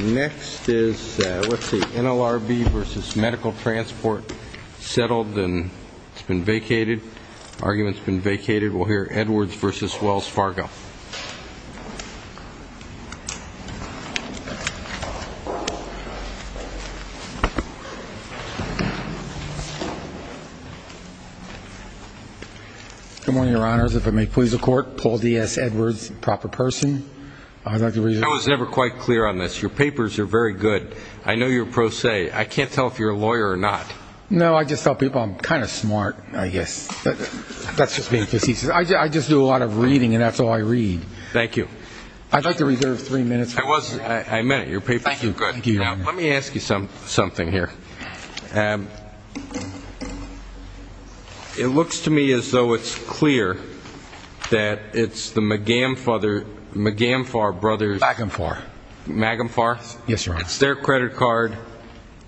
Next is NLRB v. Medical Transport settled and it's been vacated. Arguments have been vacated. We'll hear Edwards v. Wells Fargo. Good morning, Your Honors. If it may please the Court, Paul D.S. Edwards, proper person. I was never quite clear on this. Your papers are very good. I know you're pro se. I can't tell if you're a lawyer or not. No, I just tell people I'm kind of smart, I guess. That's just being facetious. I just do a lot of reading and that's all I read. Thank you. I'd like to reserve three minutes. I meant it. Your papers are good. Let me ask you something here. It looks to me as though it's clear that it's the Magamfar brothers. Magamfar. Magamfar. Yes, Your Honor. It's their credit card.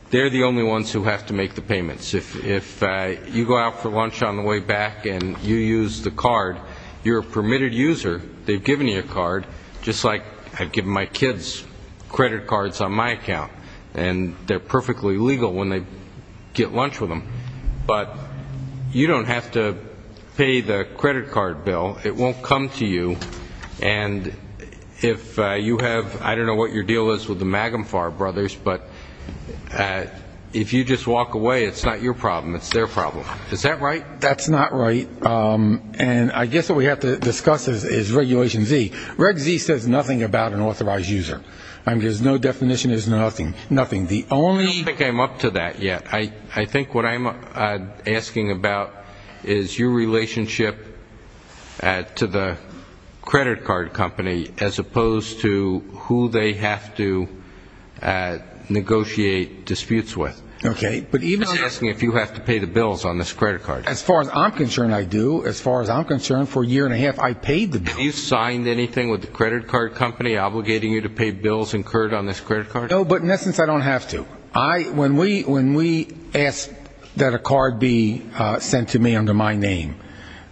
They're the only ones who have to make the payments. If you go out for lunch on the way back and you use the card, you're a permitted user. They've given you a card, just like I've given my kids credit cards on my account. And they're perfectly legal when they get lunch with them. But you don't have to pay the credit card bill. It won't come to you. And if you have, I don't know what your deal is with the Magamfar brothers, but if you just walk away, it's not your problem, it's their problem. Is that right? That's not right. And I guess what we have to discuss is Regulation Z. Reg Z says nothing about an authorized user. There's no definition, there's nothing. I don't think I'm up to that yet. I think what I'm asking about is your relationship to the credit card company as opposed to who they have to negotiate disputes with. Okay. I'm just asking if you have to pay the bills on this credit card. As far as I'm concerned, I do. As far as I'm concerned, for a year and a half, I paid the bills. Have you signed anything with the credit card company obligating you to pay bills incurred on this credit card? No, but in essence, I don't have to. When we asked that a card be sent to me under my name,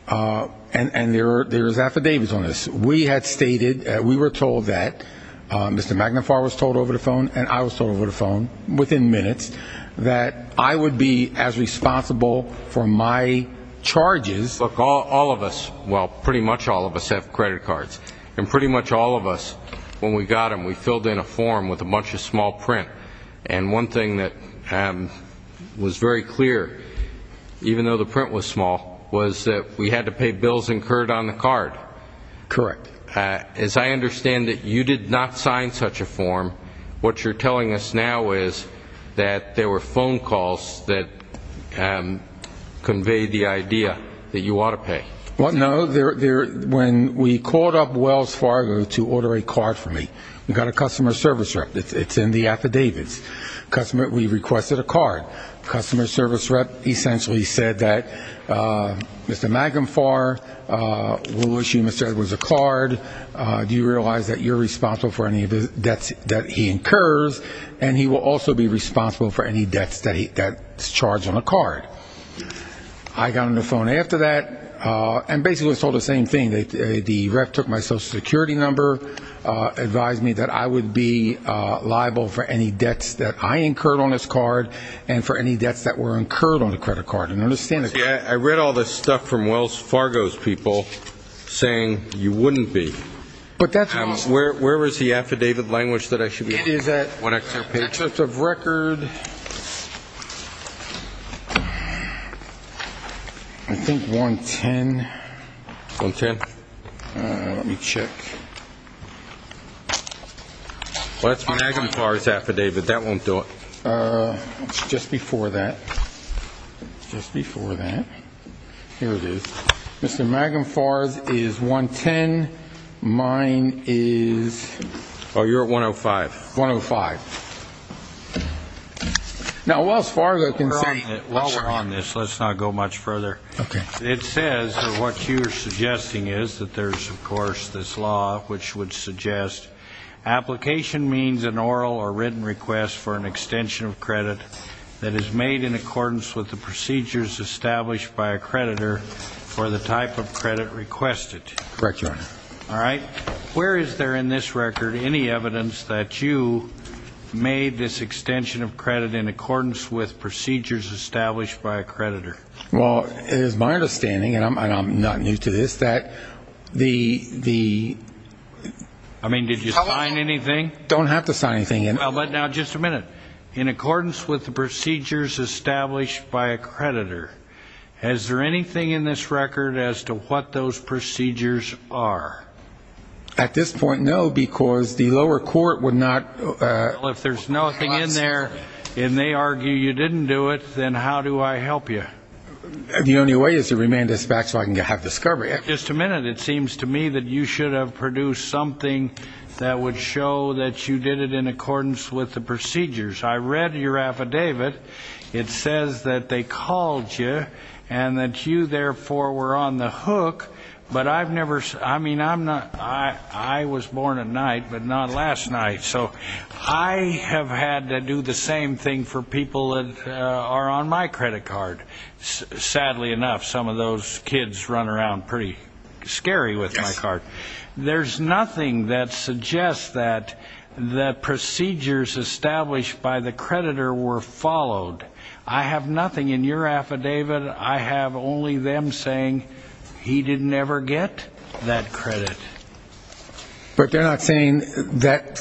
and there's affidavits on this, we had stated, we were told that, Mr. Magamfar was told over the phone and I was told over the phone, within minutes, that I would be as responsible for my charges. Look, all of us, well, pretty much all of us have credit cards. And pretty much all of us, when we got them, we filled in a form with a bunch of small print. And one thing that was very clear, even though the print was small, was that we had to pay bills incurred on the card. Correct. As I understand it, you did not sign such a form. What you're telling us now is that there were phone calls that conveyed the idea that you ought to pay. Well, no. When we called up Wells Fargo to order a card from me, we got a customer service rep. It's in the affidavits. We requested a card. Customer service rep essentially said that, Mr. Magamfar, we'll assume it was a card. Do you realize that you're responsible for any of the debts that he incurs, and he will also be responsible for any debts that's charged on a card. I got on the phone after that and basically was told the same thing. The rep took my Social Security number, advised me that I would be liable for any debts that I incurred on this card and for any debts that were incurred on the credit card. I read all this stuff from Wells Fargo's people saying you wouldn't be. Where is the affidavit language that I should be looking for? For the record, I think 110. 110? Let me check. Well, that's Magamfar's affidavit. That won't do it. It's just before that. It's just before that. Here it is. Mr. Magamfar's is 110. Mine is... Oh, you're at 105. 105. Now, Wells Fargo can say... While we're on this, let's not go much further. Okay. It says that what you're suggesting is that there's, of course, this law which would suggest application means an oral or written request for an extension of credit that is made in accordance with the procedures established by a creditor for the type of credit requested. Correct, Your Honor. All right. Now, where is there in this record any evidence that you made this extension of credit in accordance with procedures established by a creditor? Well, it is my understanding, and I'm not new to this, that the... I mean, did you sign anything? Don't have to sign anything. But now, just a minute. In accordance with the procedures established by a creditor, is there anything in this record as to what those procedures are? At this point, no, because the lower court would not... Well, if there's nothing in there and they argue you didn't do it, then how do I help you? The only way is to remand this back so I can have discovery. Just a minute. It seems to me that you should have produced something that would show that you did it in accordance with the procedures. I read your affidavit. It says that they called you and that you, therefore, were on the hook. But I've never... I mean, I was born at night, but not last night. So I have had to do the same thing for people that are on my credit card. Sadly enough, some of those kids run around pretty scary with my card. There's nothing that suggests that the procedures established by the creditor were followed. I have nothing in your affidavit. I have only them saying he didn't ever get that credit. But they're not saying that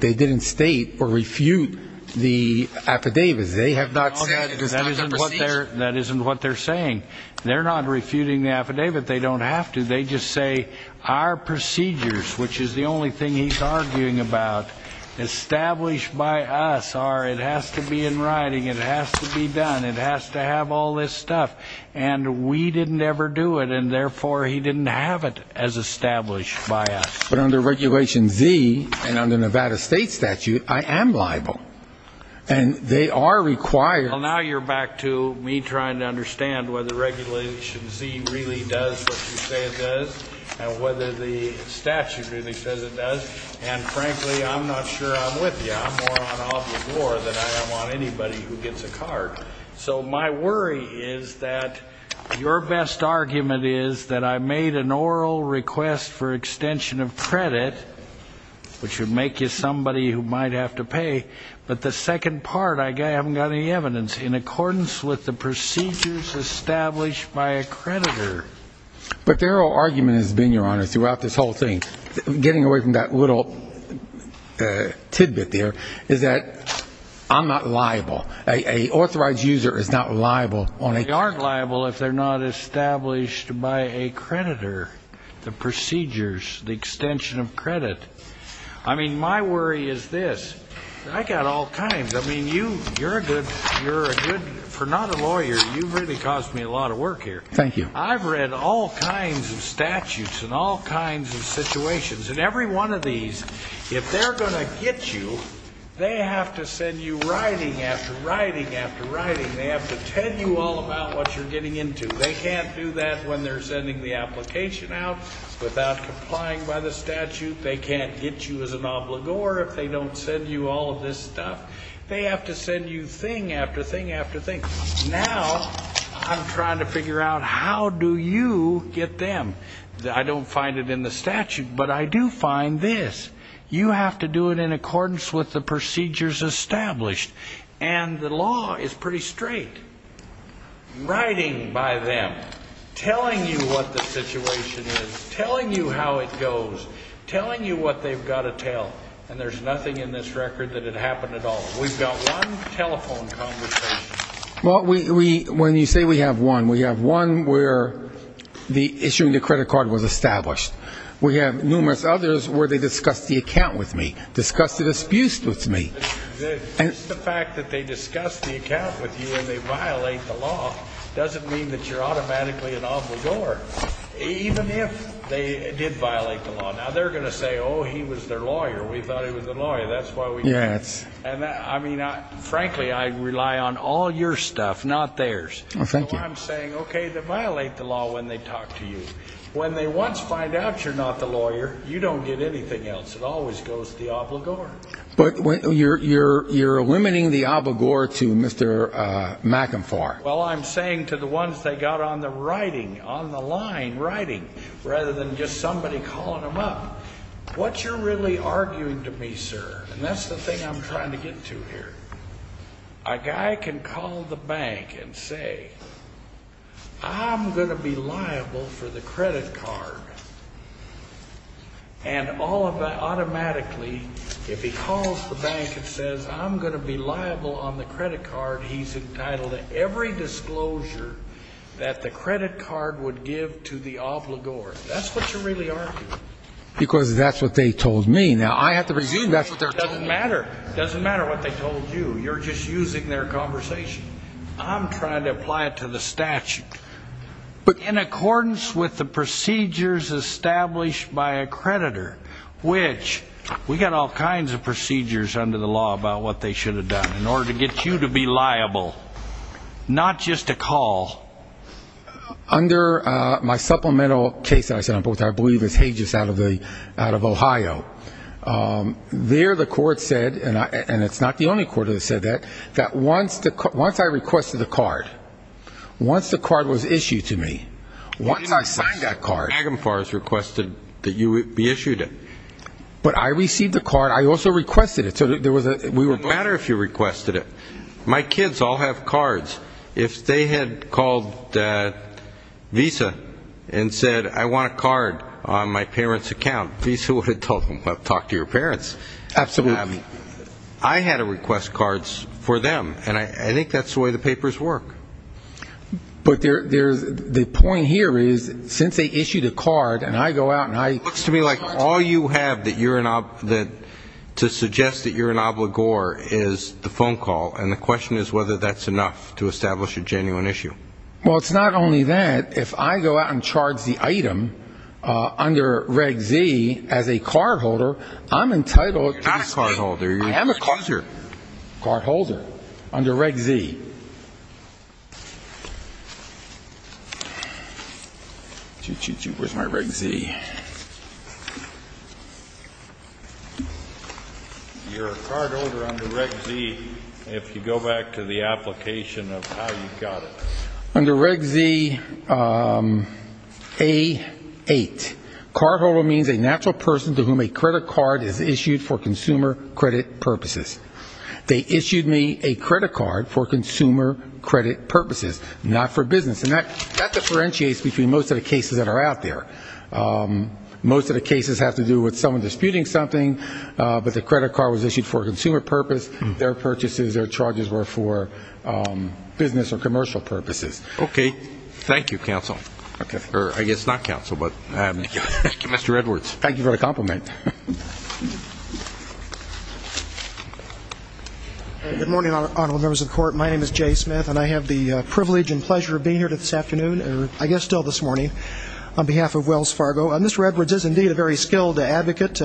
they didn't state or refute the affidavits. They have not said it was not the procedures. That isn't what they're saying. They're not refuting the affidavit. They don't have to. They just say our procedures, which is the only thing he's arguing about, established by us, are it has to be in writing, it has to be done, it has to have all this stuff. And we didn't ever do it, and therefore he didn't have it as established by us. But under Regulation Z and under Nevada State statute, I am liable. And they are required...... and whether the statute really says it does. And, frankly, I'm not sure I'm with you. I'm more on obvious war than I am on anybody who gets a card. So my worry is that your best argument is that I made an oral request for extension of credit, which would make you somebody who might have to pay, but the second part, I haven't got any evidence, in accordance with the procedures established by a creditor. But their whole argument has been, Your Honor, throughout this whole thing, getting away from that little tidbit there, is that I'm not liable. An authorized user is not liable. They aren't liable if they're not established by a creditor, the procedures, the extension of credit. I mean, my worry is this. I've got all kinds. I mean, you're a good, for not a lawyer, you've really caused me a lot of work here. Thank you. I've read all kinds of statutes and all kinds of situations, and every one of these, if they're going to get you, they have to send you writing after writing after writing. They have to tell you all about what you're getting into. They can't do that when they're sending the application out without complying by the statute. They can't get you as an obligor if they don't send you all of this stuff. They have to send you thing after thing after thing. Now I'm trying to figure out how do you get them. I don't find it in the statute, but I do find this. You have to do it in accordance with the procedures established. And the law is pretty straight. Writing by them, telling you what the situation is, telling you how it goes, telling you what they've got to tell, and there's nothing in this record that it happened at all. We've got one telephone conversation. Well, when you say we have one, we have one where the issuing the credit card was established. We have numerous others where they discussed the account with me, discussed the disputes with me. Just the fact that they discussed the account with you and they violate the law doesn't mean that you're automatically an obligor, even if they did violate the law. Now, they're going to say, oh, he was their lawyer. We thought he was the lawyer. That's why we did it. And, I mean, frankly, I rely on all your stuff, not theirs. So I'm saying, okay, they violate the law when they talk to you. When they once find out you're not the lawyer, you don't get anything else. It always goes to the obligor. But you're eliminating the obligor to Mr. McInfar. Well, I'm saying to the ones that got on the writing, on the line writing, rather than just somebody calling them up, what you're really arguing to me, sir, and that's the thing I'm trying to get to here, a guy can call the bank and say, I'm going to be liable for the credit card. And automatically, if he calls the bank and says, I'm going to be liable on the credit card, he's entitled to every disclosure that the credit card would give to the obligor. That's what you're really arguing. Because that's what they told me. Now, I have to presume that's what they're telling me. It doesn't matter. It doesn't matter what they told you. You're just using their conversation. I'm trying to apply it to the statute. But in accordance with the procedures established by a creditor, which we've got all kinds of procedures under the law about what they should have done in order to get you to be liable, not just a call. Under my supplemental case that I believe is Hages out of Ohio, there the court said, and it's not the only court that said that, that once I requested a card, once the card was issued to me, once I signed that card. Agamfar has requested that you be issued it. But I received the card. I also requested it. It wouldn't matter if you requested it. My kids all have cards. If they had called Visa and said, I want a card on my parents' account, Visa would have told them, well, talk to your parents. Absolutely. I had to request cards for them. And I think that's the way the papers work. But the point here is since they issued a card and I go out and I All you have to suggest that you're an obligor is the phone call, and the question is whether that's enough to establish a genuine issue. Well, it's not only that. If I go out and charge the item under Reg Z as a cardholder, I'm entitled to this. You're not a cardholder. I am a cardholder under Reg Z. Thank you. Where's my Reg Z? You're a cardholder under Reg Z if you go back to the application of how you got it. Under Reg Z A8, cardholder means a natural person to whom a credit card is issued for consumer credit purposes. They issued me a credit card for consumer credit purposes, not for business. And that differentiates between most of the cases that are out there. Most of the cases have to do with someone disputing something, but the credit card was issued for a consumer purpose. Their purchases, their charges were for business or commercial purposes. Okay. Thank you, counsel. I guess not counsel, but Mr. Edwards. Thank you for the compliment. Good morning, Honorable Members of the Court. My name is Jay Smith, and I have the privilege and pleasure of being here this afternoon, or I guess still this morning, on behalf of Wells Fargo. Mr. Edwards is indeed a very skilled advocate.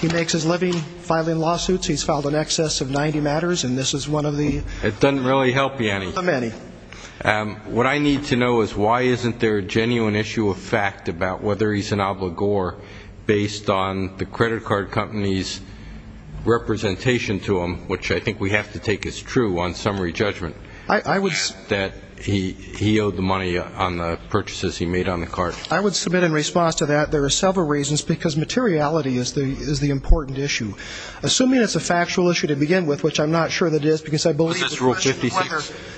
He makes his living filing lawsuits. He's filed in excess of 90 matters, and this is one of the many. It doesn't really help me, Annie. What I need to know is why isn't there a genuine issue of fact about whether he's an obligor based on the credit card company's representation to him, which I think we have to take as true on summary judgment, that he owed the money on the purchases he made on the card. I would submit in response to that there are several reasons, because materiality is the important issue. Assuming it's a factual issue to begin with, which I'm not sure that it is, because I believe it's a question of whether. Is this Rule 56?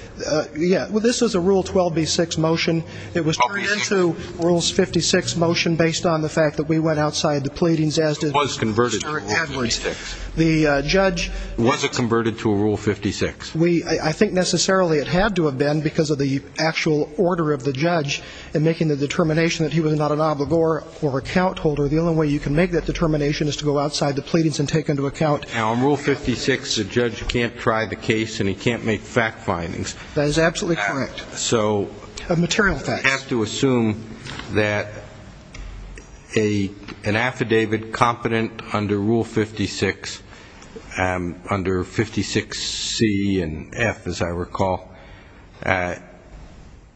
Yeah. Well, this is a Rule 12b-6 motion. It was turned into Rule 56 motion based on the fact that we went outside the pleadings as did Mr. Edwards. It was converted to Rule 56. The judge. Was it converted to a Rule 56? I think necessarily it had to have been because of the actual order of the judge in making the determination that he was not an obligor or account holder. The only way you can make that determination is to go outside the pleadings and take into account. Now, on Rule 56, the judge can't try the case and he can't make fact findings. That is absolutely correct. So. Material facts. You have to assume that an affidavit competent under Rule 56, under 56C and F, as I recall,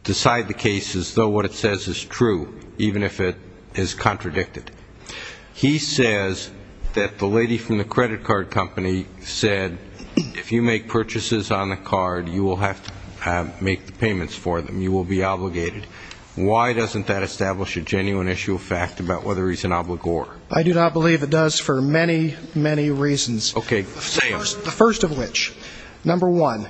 decide the case as though what it says is true, even if it is contradicted. He says that the lady from the credit card company said, if you make purchases on the card, you will have to make the payments for them. You will be obligated. Why doesn't that establish a genuine issue of fact about whether he's an obligor? I do not believe it does for many, many reasons. Okay. Say them. The first of which, number one,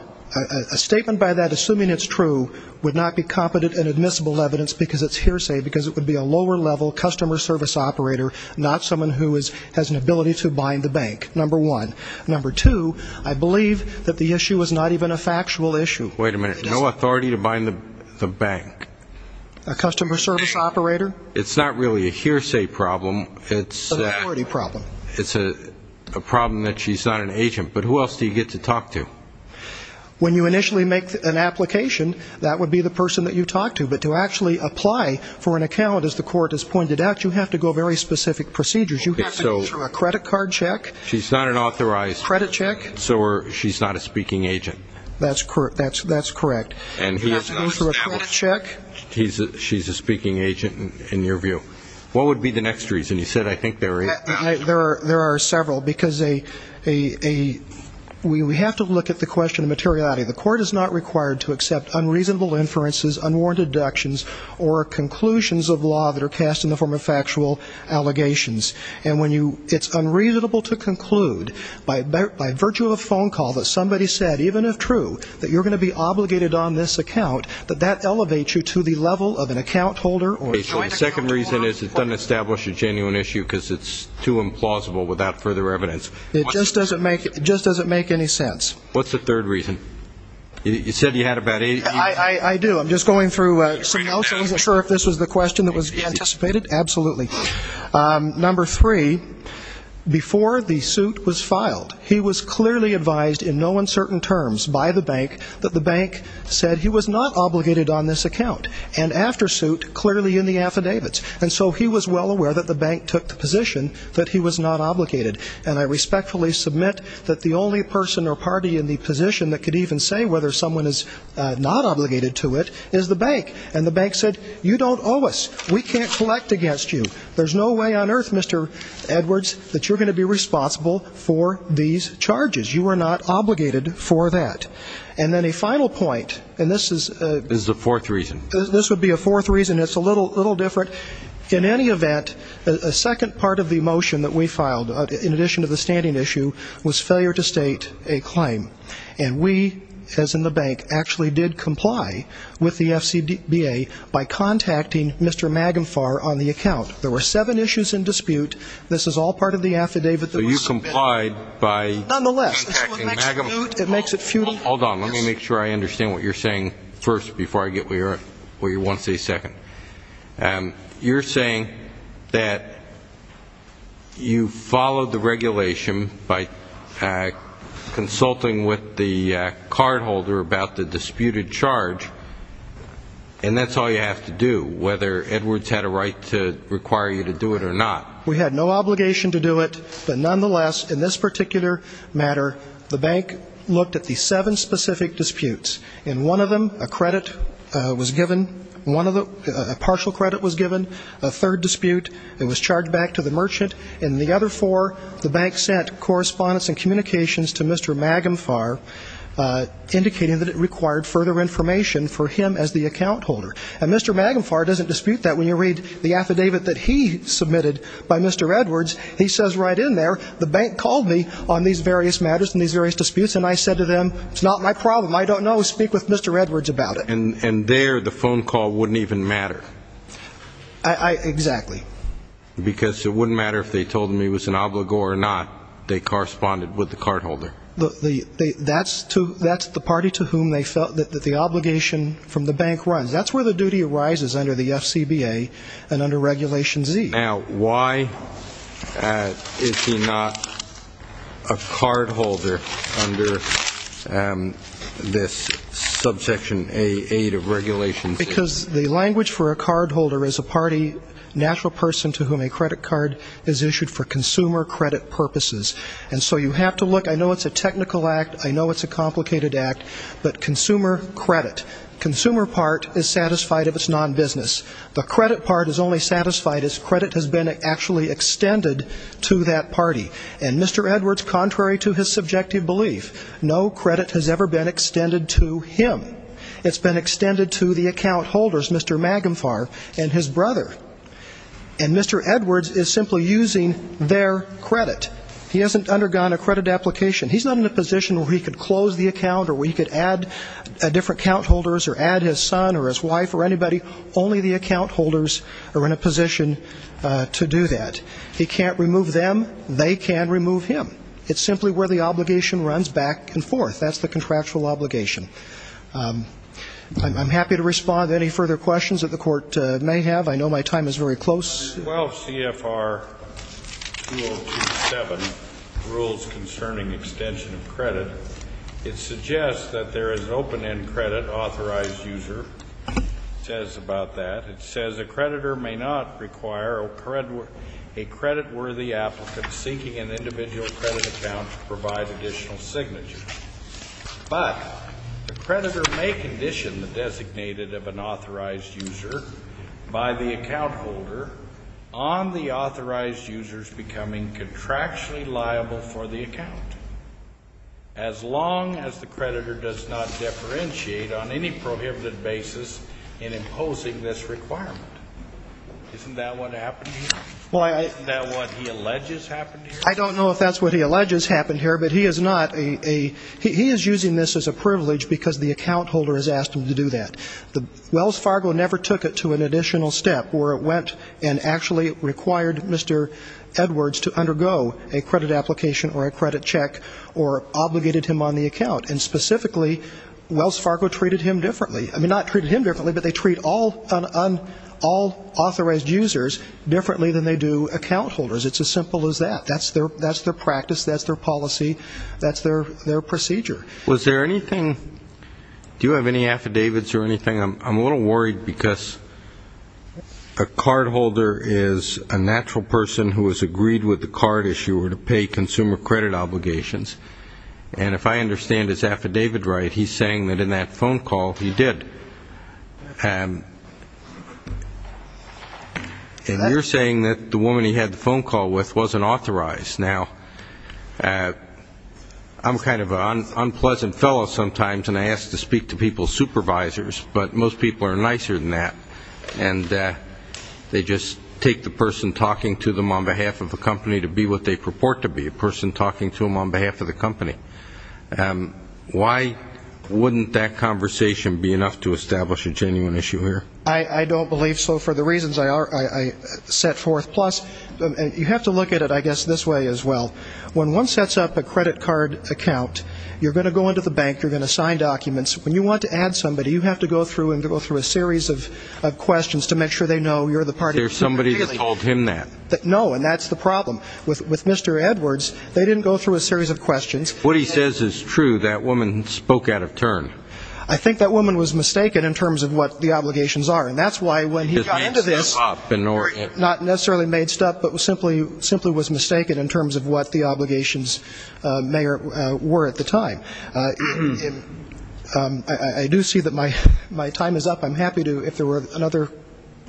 a statement by that assuming it's true would not be competent and admissible evidence because it's hearsay, because it would be a lower level customer service operator, not someone who has an ability to bind the bank, number one. Number two, I believe that the issue is not even a factual issue. Wait a minute. No authority to bind the bank. A customer service operator. It's not really a hearsay problem. It's an authority problem. It's a problem that she's not an agent. But who else do you get to talk to? When you initially make an application, that would be the person that you talk to. But to actually apply for an account, as the court has pointed out, you have to go very specific procedures. You have to go through a credit card check. She's not an authorized. Credit check. So she's not a speaking agent. That's correct. And he has to go through a credit check. She's a speaking agent, in your view. What would be the next reason? You said I think there are eight. There are several, because we have to look at the question of materiality. The court is not required to accept unreasonable inferences, unwarranted deductions, or conclusions of law that are cast in the form of factual allegations. And when it's unreasonable to conclude by virtue of a phone call that somebody said, even if true, that you're going to be obligated on this account, that that elevates you to the level of an account holder. The second reason is it doesn't establish a genuine issue because it's too implausible without further evidence. It just doesn't make any sense. What's the third reason? You said you had about eight. I do. I'm just going through some notes. I wasn't sure if this was the question that was anticipated. Absolutely. Number three, before the suit was filed, he was clearly advised in no uncertain terms by the bank that the bank said he was not obligated on this account. And after suit, clearly in the affidavits. And so he was well aware that the bank took the position that he was not obligated. And I respectfully submit that the only person or party in the position that could even say whether someone is not obligated to it is the bank. And the bank said, you don't owe us. We can't collect against you. There's no way on earth, Mr. Edwards, that you're going to be responsible for these charges. You are not obligated for that. And then a final point, and this is the fourth reason. This would be a fourth reason. It's a little different. In any event, a second part of the motion that we filed, in addition to the standing issue, was failure to state a claim. And we, as in the bank, actually did comply with the FCBA by contacting Mr. Magenfar on the account. There were seven issues in dispute. This is all part of the affidavit that was submitted. So you complied by contacting Magenfar. Nonetheless, this is what makes it futile. Hold on. Let me make sure I understand what you're saying first before I get where you want to stay second. You're saying that you followed the regulation by consulting with the cardholder about the disputed charge, and that's all you have to do, whether Edwards had a right to require you to do it or not. We had no obligation to do it. But nonetheless, in this particular matter, the bank looked at the seven specific disputes. In one of them, a credit was given, a partial credit was given, a third dispute. It was charged back to the merchant. In the other four, the bank sent correspondence and communications to Mr. Magenfar, indicating that it required further information for him as the account holder. And Mr. Magenfar doesn't dispute that. When you read the affidavit that he submitted by Mr. Edwards, he says right in there, the bank called me on these various matters and these various disputes, and I said to them, it's not my problem, I don't know, speak with Mr. Edwards about it. And there the phone call wouldn't even matter. Exactly. Because it wouldn't matter if they told him he was an obligor or not, they corresponded with the cardholder. That's the party to whom they felt that the obligation from the bank runs. That's where the duty arises under the FCBA and under Regulation Z. Now, why is he not a cardholder under this Subsection 8 of Regulation Z? Because the language for a cardholder is a party, natural person to whom a credit card is issued for consumer credit purposes. And so you have to look. I know it's a technical act. I know it's a complicated act. But consumer credit, consumer part is satisfied if it's non-business. The credit part is only satisfied if credit has been actually extended to that party. And Mr. Edwards, contrary to his subjective belief, no credit has ever been extended to him. It's been extended to the account holders, Mr. Magenfar and his brother. And Mr. Edwards is simply using their credit. He hasn't undergone a credit application. He's not in a position where he could close the account or where he could add different account holders or add his son or his wife or anybody. Only the account holders are in a position to do that. He can't remove them. They can remove him. It's simply where the obligation runs back and forth. That's the contractual obligation. I'm happy to respond to any further questions that the Court may have. I know my time is very close. 12 CFR 2027, Rules Concerning Extension of Credit. It suggests that there is an open-end credit authorized user. It says about that, it says, a creditor may not require a creditworthy applicant seeking an individual credit account to provide additional signatures. But the creditor may condition the designated of an authorized user by the account holder on the authorized user's becoming contractually liable for the account, as long as the creditor does not differentiate on any prohibited basis in imposing this requirement. Isn't that what happened here? Isn't that what he alleges happened here? I don't know if that's what he alleges happened here, but he is using this as a privilege because the account holder has asked him to do that. Wells Fargo never took it to an additional step where it went and actually required Mr. Edwards to undergo a credit application or a credit check or obligated him on the account. And specifically, Wells Fargo treated him differently. I mean, not treated him differently, but they treat all authorized users differently than they do account holders. It's as simple as that. That's their practice. That's their policy. That's their procedure. Was there anything do you have any affidavits or anything? I'm a little worried because a cardholder is a natural person who has agreed with the card issuer to pay consumer credit obligations. And if I understand his affidavit right, he's saying that in that phone call he did. And you're saying that the woman he had the phone call with wasn't authorized. Now, I'm kind of an unpleasant fellow sometimes, and I ask to speak to people's supervisors, but most people are nicer than that. And they just take the person talking to them on behalf of the company to be what they purport to be, a person talking to them on behalf of the company. Why wouldn't that conversation be enough to establish a genuine issue here? I don't believe so for the reasons I set forth. Plus, you have to look at it, I guess, this way as well. When one sets up a credit card account, you're going to go into the bank, you're going to sign documents. When you want to add somebody, you have to go through and go through a series of questions to make sure they know you're the party. There's somebody that told him that. No, and that's the problem. With Mr. Edwards, they didn't go through a series of questions. What he says is true. That woman spoke out of turn. I think that woman was mistaken in terms of what the obligations are, and that's why when he got into this, not necessarily made stuff, but simply was mistaken in terms of what the obligations were at the time. I do see that my time is up. I'm happy to, if there were another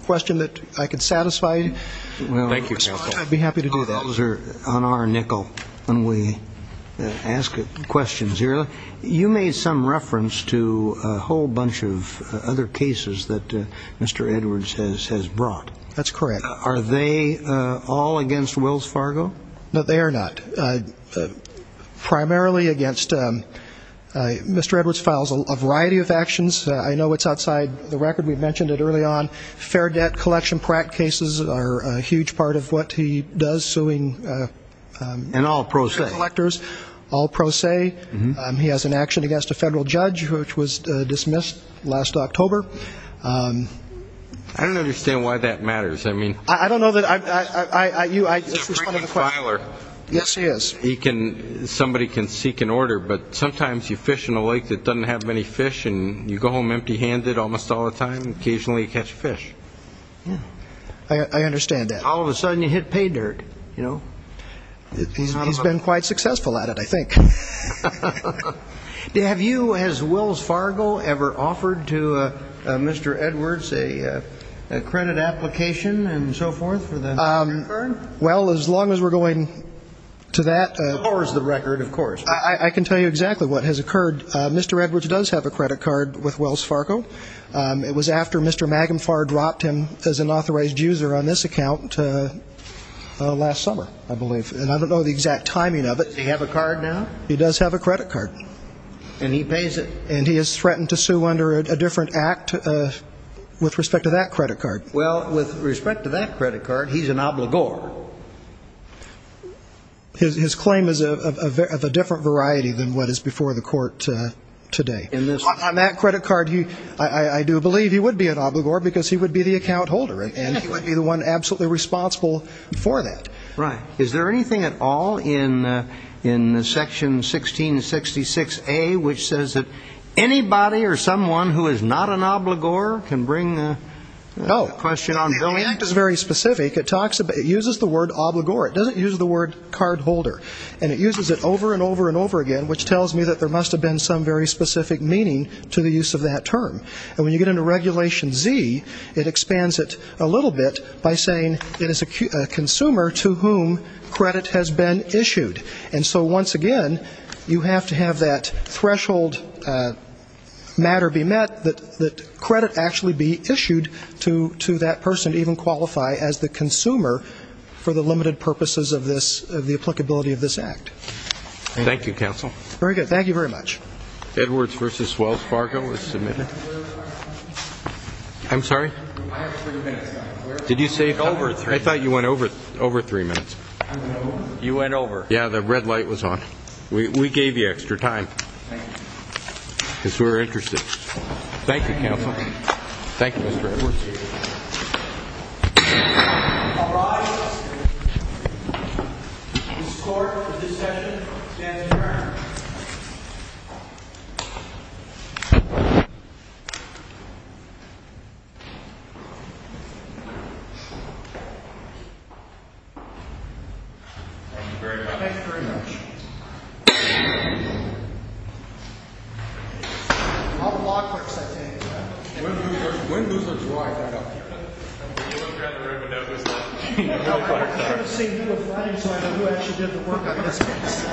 question that I could satisfy, I'd be happy to do that. On our nickel, when we ask questions here, you made some reference to a whole bunch of other cases that Mr. Edwards has brought. That's correct. Are they all against Wills Fargo? No, they are not. Primarily against Mr. Edwards files a variety of actions. I know it's outside the record. We mentioned it early on. Fair debt collection practice cases are a huge part of what he does, suing collectors. And all pro se. All pro se. He has an action against a federal judge, which was dismissed last October. I don't understand why that matters. I don't know that I ---- He's a frequent filer. Yes, he is. Somebody can seek an order, but sometimes you fish in a lake that doesn't have many fish and you go home empty-handed almost all the time and occasionally catch a fish. I understand that. All of a sudden you hit pay dirt, you know. He's been quite successful at it, I think. Have you, has Wills Fargo ever offered to Mr. Edwards a credit application and so forth for the record? Well, as long as we're going to that ---- Of course, the record, of course. I can tell you exactly what has occurred. Mr. Edwards does have a credit card with Wills Fargo. It was after Mr. Magenfar dropped him as an authorized user on this account last summer, I believe. And I don't know the exact timing of it. Does he have a card now? He does have a credit card. And he pays it? And he has threatened to sue under a different act with respect to that credit card. Well, with respect to that credit card, he's an obligor. His claim is of a different variety than what is before the court today. On that credit card, I do believe he would be an obligor because he would be the account holder. And he would be the one absolutely responsible for that. Right. Is there anything at all in Section 1666A which says that anybody or someone who is not an obligor can bring a question on? No. The act is very specific. It uses the word obligor. It doesn't use the word card holder. And it uses it over and over and over again, which tells me that there must have been some very specific meaning to the use of that term. And when you get into Regulation Z, it expands it a little bit by saying it is a consumer to whom credit has been issued. And so, once again, you have to have that threshold matter be met, that credit actually be issued to that person to even qualify as the consumer for the limited purposes of this, of the applicability of this act. Thank you, counsel. Very good. Thank you very much. Edwards v. Wells Fargo is submitted. I'm sorry? I have three minutes. Did you say over three? I thought you went over three minutes. You went over. Yeah, the red light was on. We gave you extra time. Thank you. I guess we were interested. Thank you, counsel. Thank you, Mr. Edwards. All rise. This court for this session stands adjourned. Thank you very much. Thank you very much. I'll block for a second. When do those look dry? I don't know. When you look around the room and don't notice them. No, I'm sorry. I'm going to see you on Friday so I know who actually did the work on this case.